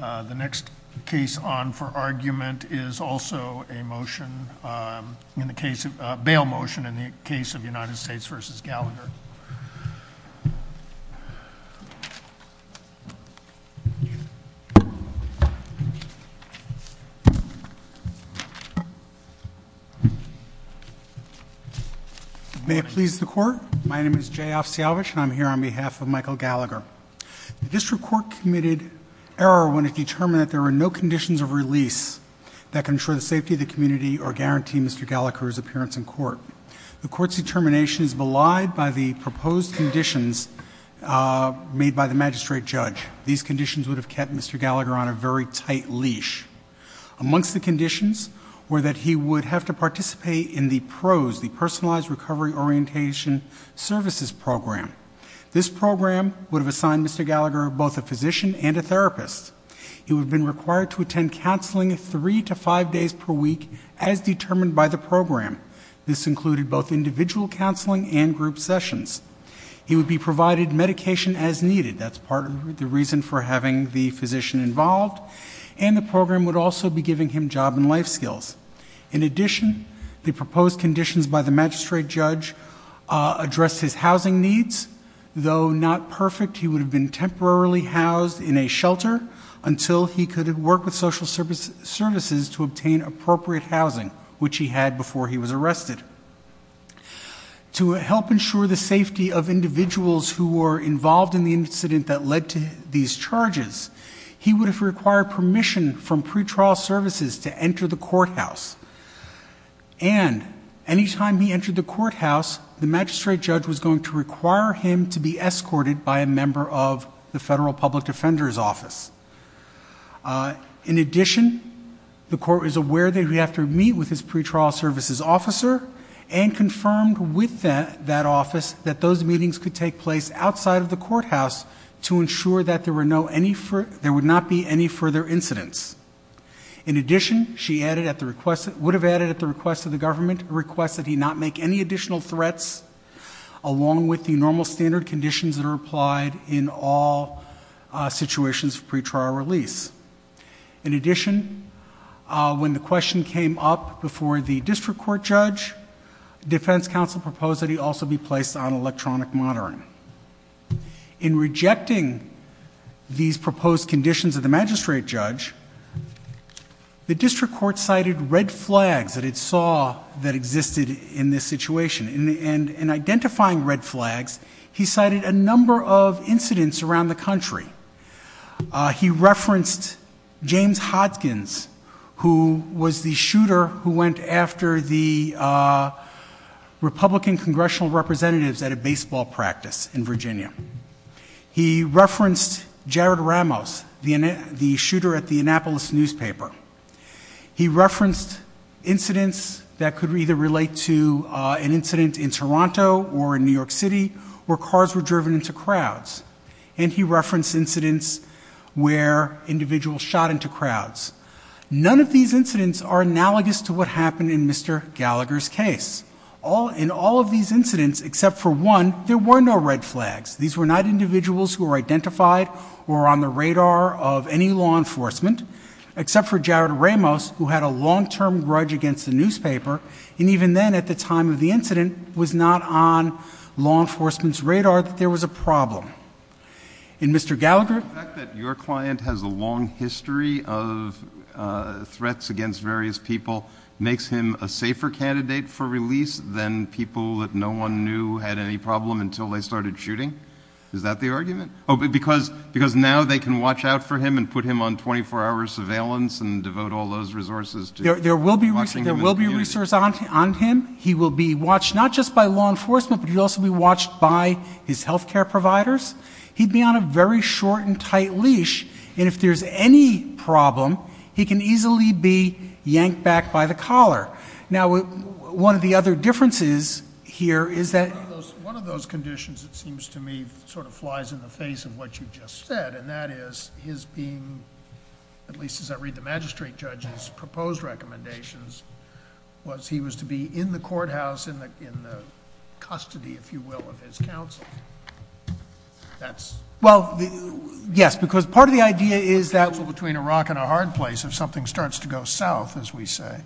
The next case on for argument is also a motion in the case of bail motion in the case of United States v. Gallagher. May it please the court. My name is Jay Ofsialvich and I'm here on behalf of United States v. Gallagher. The court has committed error when it determined that there are no conditions of release that can ensure the safety of the community or guarantee Mr. Gallagher's appearance in court. The court's determination is belied by the proposed conditions made by the magistrate judge. These conditions would have kept Mr. Gallagher on a very tight leash. Amongst the conditions were that he would have to participate in the PROS, the personalized recovery orientation services program. This program would have assigned Mr. Gallagher both a physician and a therapist. He would have been required to attend counseling three to five days per week as determined by the program. This included both individual counseling and group sessions. He would be provided medication as needed. That's part of the reason for having the physician involved. And the program would also be giving him job and life skills. In addition, the proposed conditions by the magistrate judge addressed his housing needs. Though not perfect, he would have been temporarily housed in a shelter until he could work with social services to obtain appropriate housing, which he had before he was arrested. To help ensure the safety of individuals who were involved in the incident that led to these charges, he would have required permission from pretrial services to enter the courthouse. And any time he entered the courthouse, the magistrate judge was going to require him to be escorted by a member of the Federal Public Defender's Office. In addition, the court was aware that he would have to meet with his pretrial services officer and confirmed with that office that those meetings could take place outside of the courthouse to ensure that there would not be any further incidents. In addition, she would have added at the request of the government a request that he not make any additional threats along with the normal standard conditions that are applied in all situations of pretrial release. In addition, when the question came up before the district court judge, defense counsel proposed that he also be placed on electronic monitoring. In rejecting these proposed conditions of the magistrate judge, the district court cited red flags that it saw that existed in this situation. In identifying red flags, he cited a number of incidents around the country. He referenced James Hopkins, who was the shooter who went after the Republican congressional representatives at a baseball practice in Virginia. He referenced Jared Ramos, the shooter at the Annapolis newspaper. He referenced incidents that could either relate to an incident in Toronto or in New York City where cars were driven into crowds. And he referenced incidents where individuals shot into crowds. None of these incidents are analogous to what happened in Mr. Gallagher's case. In all of these incidents, except for one, there were no red flags. These were not individuals who were identified or on the radar of any law enforcement, except for Jared Ramos, who had a long-term grudge against the newspaper, and even then, at the time of the incident, was not on law enforcement's radar that there was a problem. In Mr. Gallagher's case, the fact that your client has a long history of threats against various people makes him a safer candidate for release than people that no one knew had any problem until they started shooting? Is that the argument? Because now they can watch out for him and put him on 24-hour surveillance and devote all those resources to watching him in the community. There will be resources on him. He will be watched not just by law enforcement, but he will also be watched by his health care providers. He'd be on a very short and tight leash, and if there's any problem, he can easily be yanked back by the collar. Now, one of the other differences here is that... One of those conditions, it seems to me, sort of flies in the face of what you just said, and that is his being, at least as I read the magistrate judge's proposed recommendations, was he was to be in the courthouse, in the custody, if you will, of his counsel. That's... Well, yes, because part of the idea is that...... between a rock and a hard place if something starts to go south, as we say.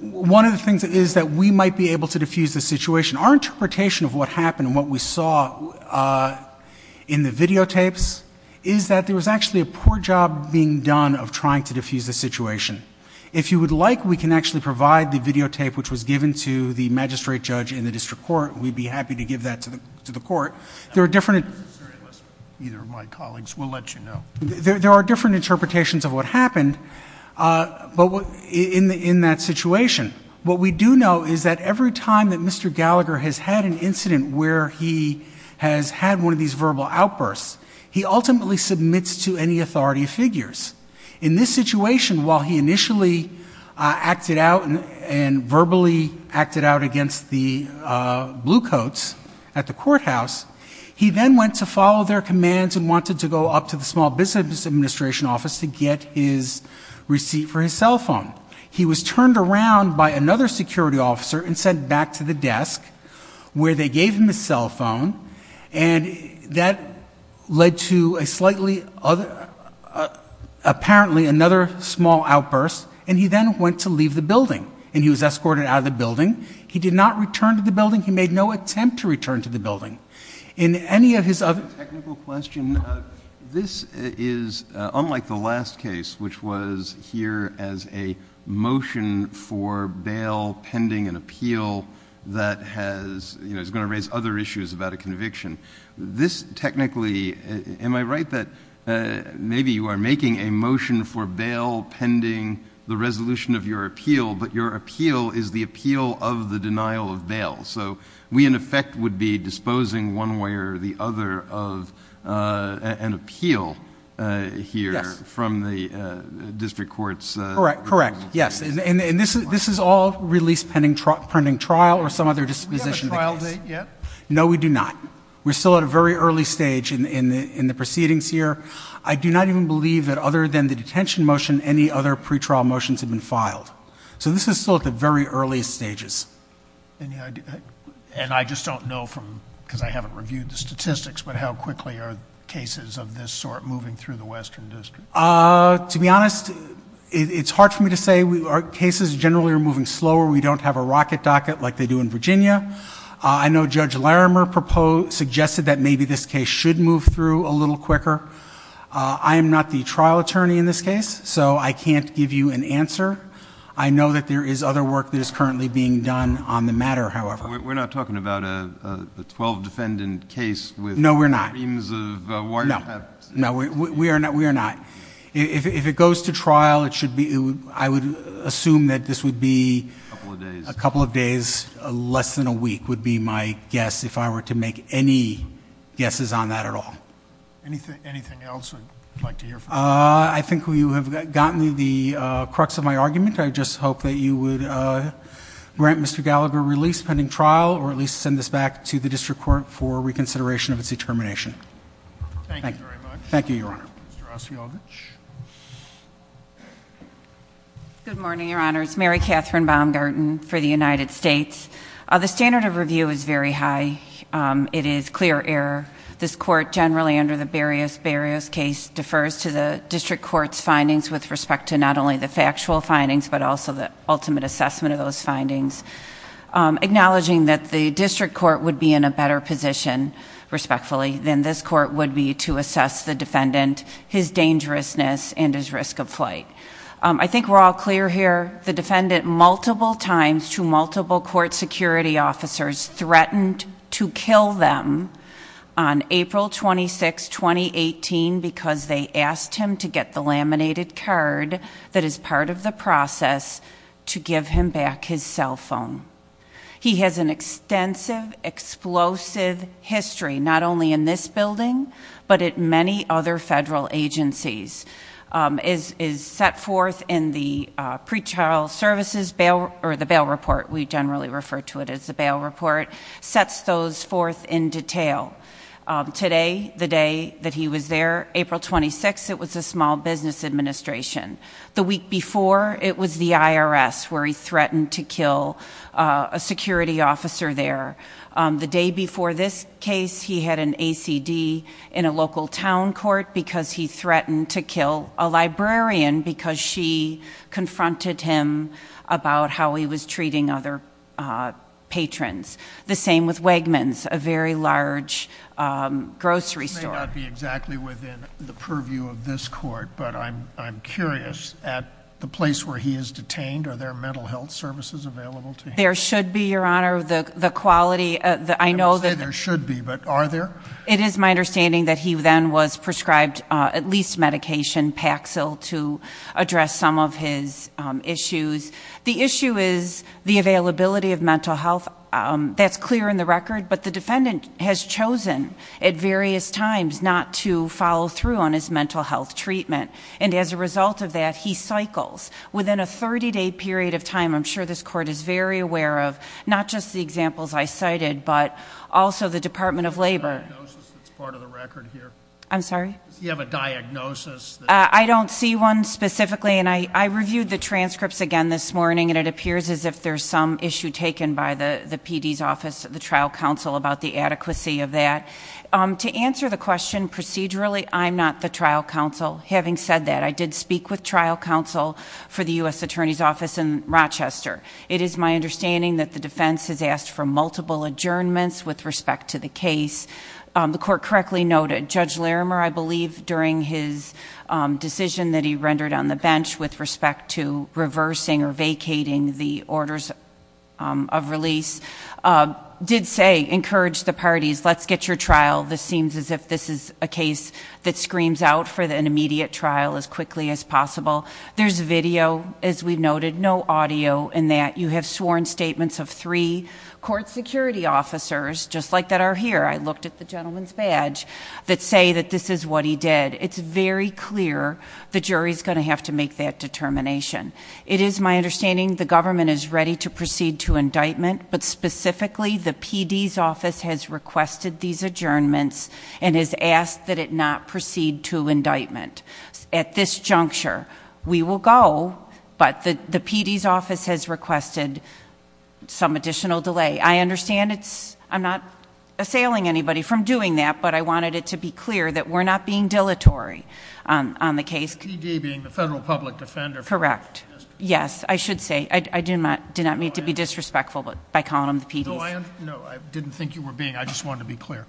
One of the things is that we might be able to diffuse the situation. Our interpretation of what happened and what we saw in the videotapes is that there was actually a poor job being done of trying to diffuse the situation. If you would like, we can actually provide the videotape, which was given to the magistrate judge in the district court. We'd be happy to give that to the court. There are different...... either of my colleagues will let you know. There are different interpretations of what happened in that situation. What we do know is that every time that Mr. Gallagher has had an incident where he has had one of these In this situation, while he initially acted out and verbally acted out against the bluecoats at the courthouse, he then went to follow their commands and wanted to go up to the Small Business Administration office to get his receipt for his cell phone. He was turned around by another security officer and sent back to the desk where they gave him his cell small outburst, and he then went to leave the building. He was escorted out of the building. He did not return to the building. He made no attempt to return to the building. In any of his other... A technical question. This is unlike the last case, which was here as a motion for bail pending an appeal that has... is going to raise other issues about a conviction. This technically... am I right that maybe you are making a motion for bail pending the resolution of your appeal, but your appeal is the appeal of the denial of bail? So we in effect would be disposing one way or the other of an appeal here from the district court's... Correct. Correct. Yes. And this is all release pending trial or some other disposition of the case. Do we have a trial date yet? No, we do not. We're still at a very early stage in the proceedings here. I do not even believe that other than the detention motion, any other pretrial motions have been filed. So this is still at the very earliest stages. And I just don't know from... because I haven't reviewed the statistics, but how quickly are cases of this sort moving through the Western District? To be honest, it's hard for me to say. Cases generally are moving slower. We don't have a rocket docket like they do in Virginia. I know Judge Larimer proposed... suggested that maybe this case should move through a little quicker. I am not the trial attorney in this case, so I can't give you an answer. I know that there is other work that is currently being done on the matter, however. We're not talking about a twelve-defendant case with............... A couple of days, less than a week would be my guess, if I were to make any guesses on that at all. Anything else you would like to hear from the court? I think we have gotten to the crux of my argument. I just hope that you would grant Mr. Gallagher release pending trial, or at least send this back to the District Court for reconsideration of its determination. Thank you very much. Thank you, Your Honor. Good morning, Your Honors. Mary Kathryn Baumgarten for the United States. The standard of review is very high. It is clear error. This court, generally under the Barrios-Barrios case, defers to the District Court's findings with respect to not only the factual findings, but also the ultimate assessment of those findings. Acknowledging that the District Court's findings are not based on factual evidence, but on the evidence of the defendant, his dangerousness, and his risk of flight. I think we are all clear here. The defendant, multiple times to multiple court security officers, threatened to kill them on April 26, 2018, because they asked him to get the laminated card that is part of the process to give him back his cell phone. He has an extensive, explosive history, not only in this building, but at many other federal agencies. It is set forth in the pre-trial services, or the bail report, we generally refer to it as the bail report, sets those forth in detail. Today, the day that he was there, April 26, it was a small business administration. The week before, it was the IRS where he threatened to kill a security officer there. The day before this case, he had an ACD in a local town court because he threatened to kill a librarian because she confronted him about how he was treating other patrons. The same with Wegmans, a very large grocery store. This may not be exactly within the purview of this court, but I'm curious, at the place where he is detained, are there mental health services available to him? There should be, Your Honor. The quality, I know that... You say there should be, but are there? It is my understanding that he then was prescribed at least medication, Paxil, to address some of his issues. The issue is the availability of mental health. That's clear in the record, but the defendant has chosen at various times not to follow through on his mental health treatment. As a result of that, he cycles. Within a 30-day period of time, I'm sure this court is very aware of, not just the examples I cited, but also the Department of Labor. Do you have a diagnosis that's part of the record here? I'm sorry? Do you have a diagnosis? I don't see one specifically. I reviewed the transcripts again this morning, and it appears as if there's some issue taken by the PD's office, the trial counsel, about the adequacy of that. To answer the question procedurally, I'm not the trial counsel. Having said that, I did speak with trial counsel for the U.S. Attorney's Office in Rochester. It is my understanding that the defense has asked for multiple adjournments with respect to the case. The court correctly noted, Judge Larimer, I believe, during his decision that he rendered on the bench with respect to reversing or vacating the orders of release, did say, encouraged the parties, let's get your trial. This seems as if this is a case that screams out for an immediate trial as quickly as possible. There's video, as we noted, no audio in that. You have sworn statements of three court security officers, just like that are here. I looked at the gentleman's badge, that say that this is what he did. It's very clear the jury is going to have to make that determination. It is my understanding the government is ready to proceed to indictment, but specifically the PD's office has requested these adjournments and has asked that it not proceed to indictment. At this juncture, we will go, but the PD's office has requested some additional delay. I understand it's, I'm not assailing anybody from doing that, but I wanted it to be clear that we're not being dilatory on the case. The PD being the federal public defender... Correct. Yes, I should say. I did not mean to be disrespectful by calling them the PD's. No, I didn't think you were being... I just wanted to be clear.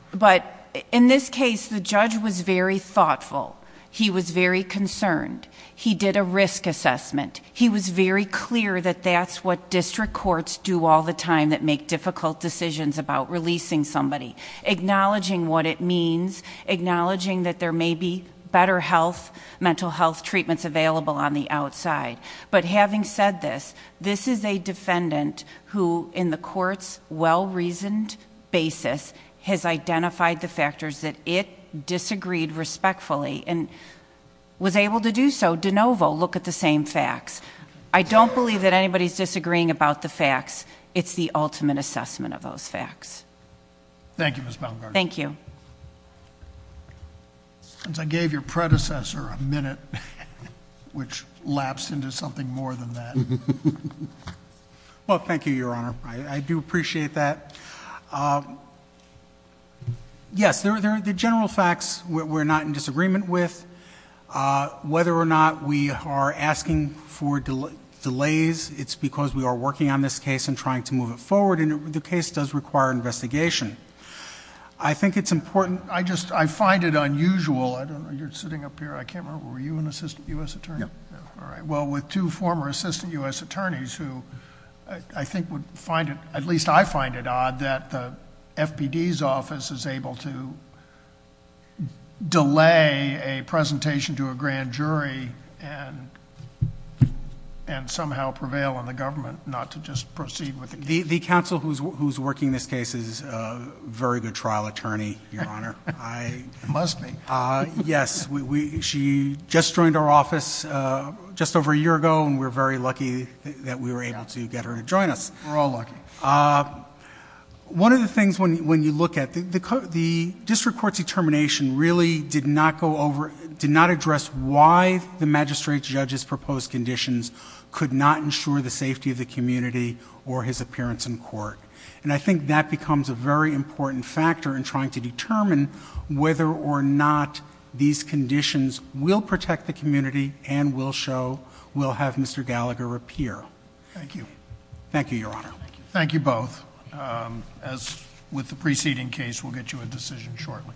In this case, the judge was very thoughtful. He was very concerned. He did a risk assessment. He was very clear that that's what district courts do all the time, that make difficult decisions about releasing somebody. Acknowledging what it means, acknowledging that there may be better health, mental health treatments available on the outside, but having said this, this is a defendant who in the court's well-reasoned basis has identified the factors that it disagreed respectfully and was able to do so de novo, look at the same facts. I don't believe that anybody's disagreeing about the facts. It's the ultimate assessment of those facts. Thank you, Ms. Baumgartner. Thank you. Since I gave your predecessor a minute, which lapsed into something more than that. Well, thank you, Your Honor. I do appreciate that. Yes, the general facts we're not in disagreement with. Whether or not we are asking for delays, it's because we are working on this case and trying to move it forward. The case does require investigation. I think it's important... I find it unusual. I don't know. You're sitting up here. I can't remember. Were you an assistant U.S. attorney? Yes. All right. Well, with two former assistant U.S. attorneys who I think would find it... at least I find it odd that the FPD's office is able to delay a presentation to a grand jury. The counsel who's working this case is a very good trial attorney, Your Honor. Must be. Yes. She just joined our office just over a year ago, and we're very lucky that we were able to get her to join us. We're all lucky. One of the things when you look at... the district court's determination really did not go over... did not address why the magistrate judge's proposed conditions could not ensure the safety of the community or his appearance in court. And I think that becomes a very important factor in trying to determine whether or not these conditions will protect the community and will show... will have Mr. Gallagher appear. Thank you. Thank you, Your Honor. Thank you both. As with the preceding case, we'll get you a decision shortly.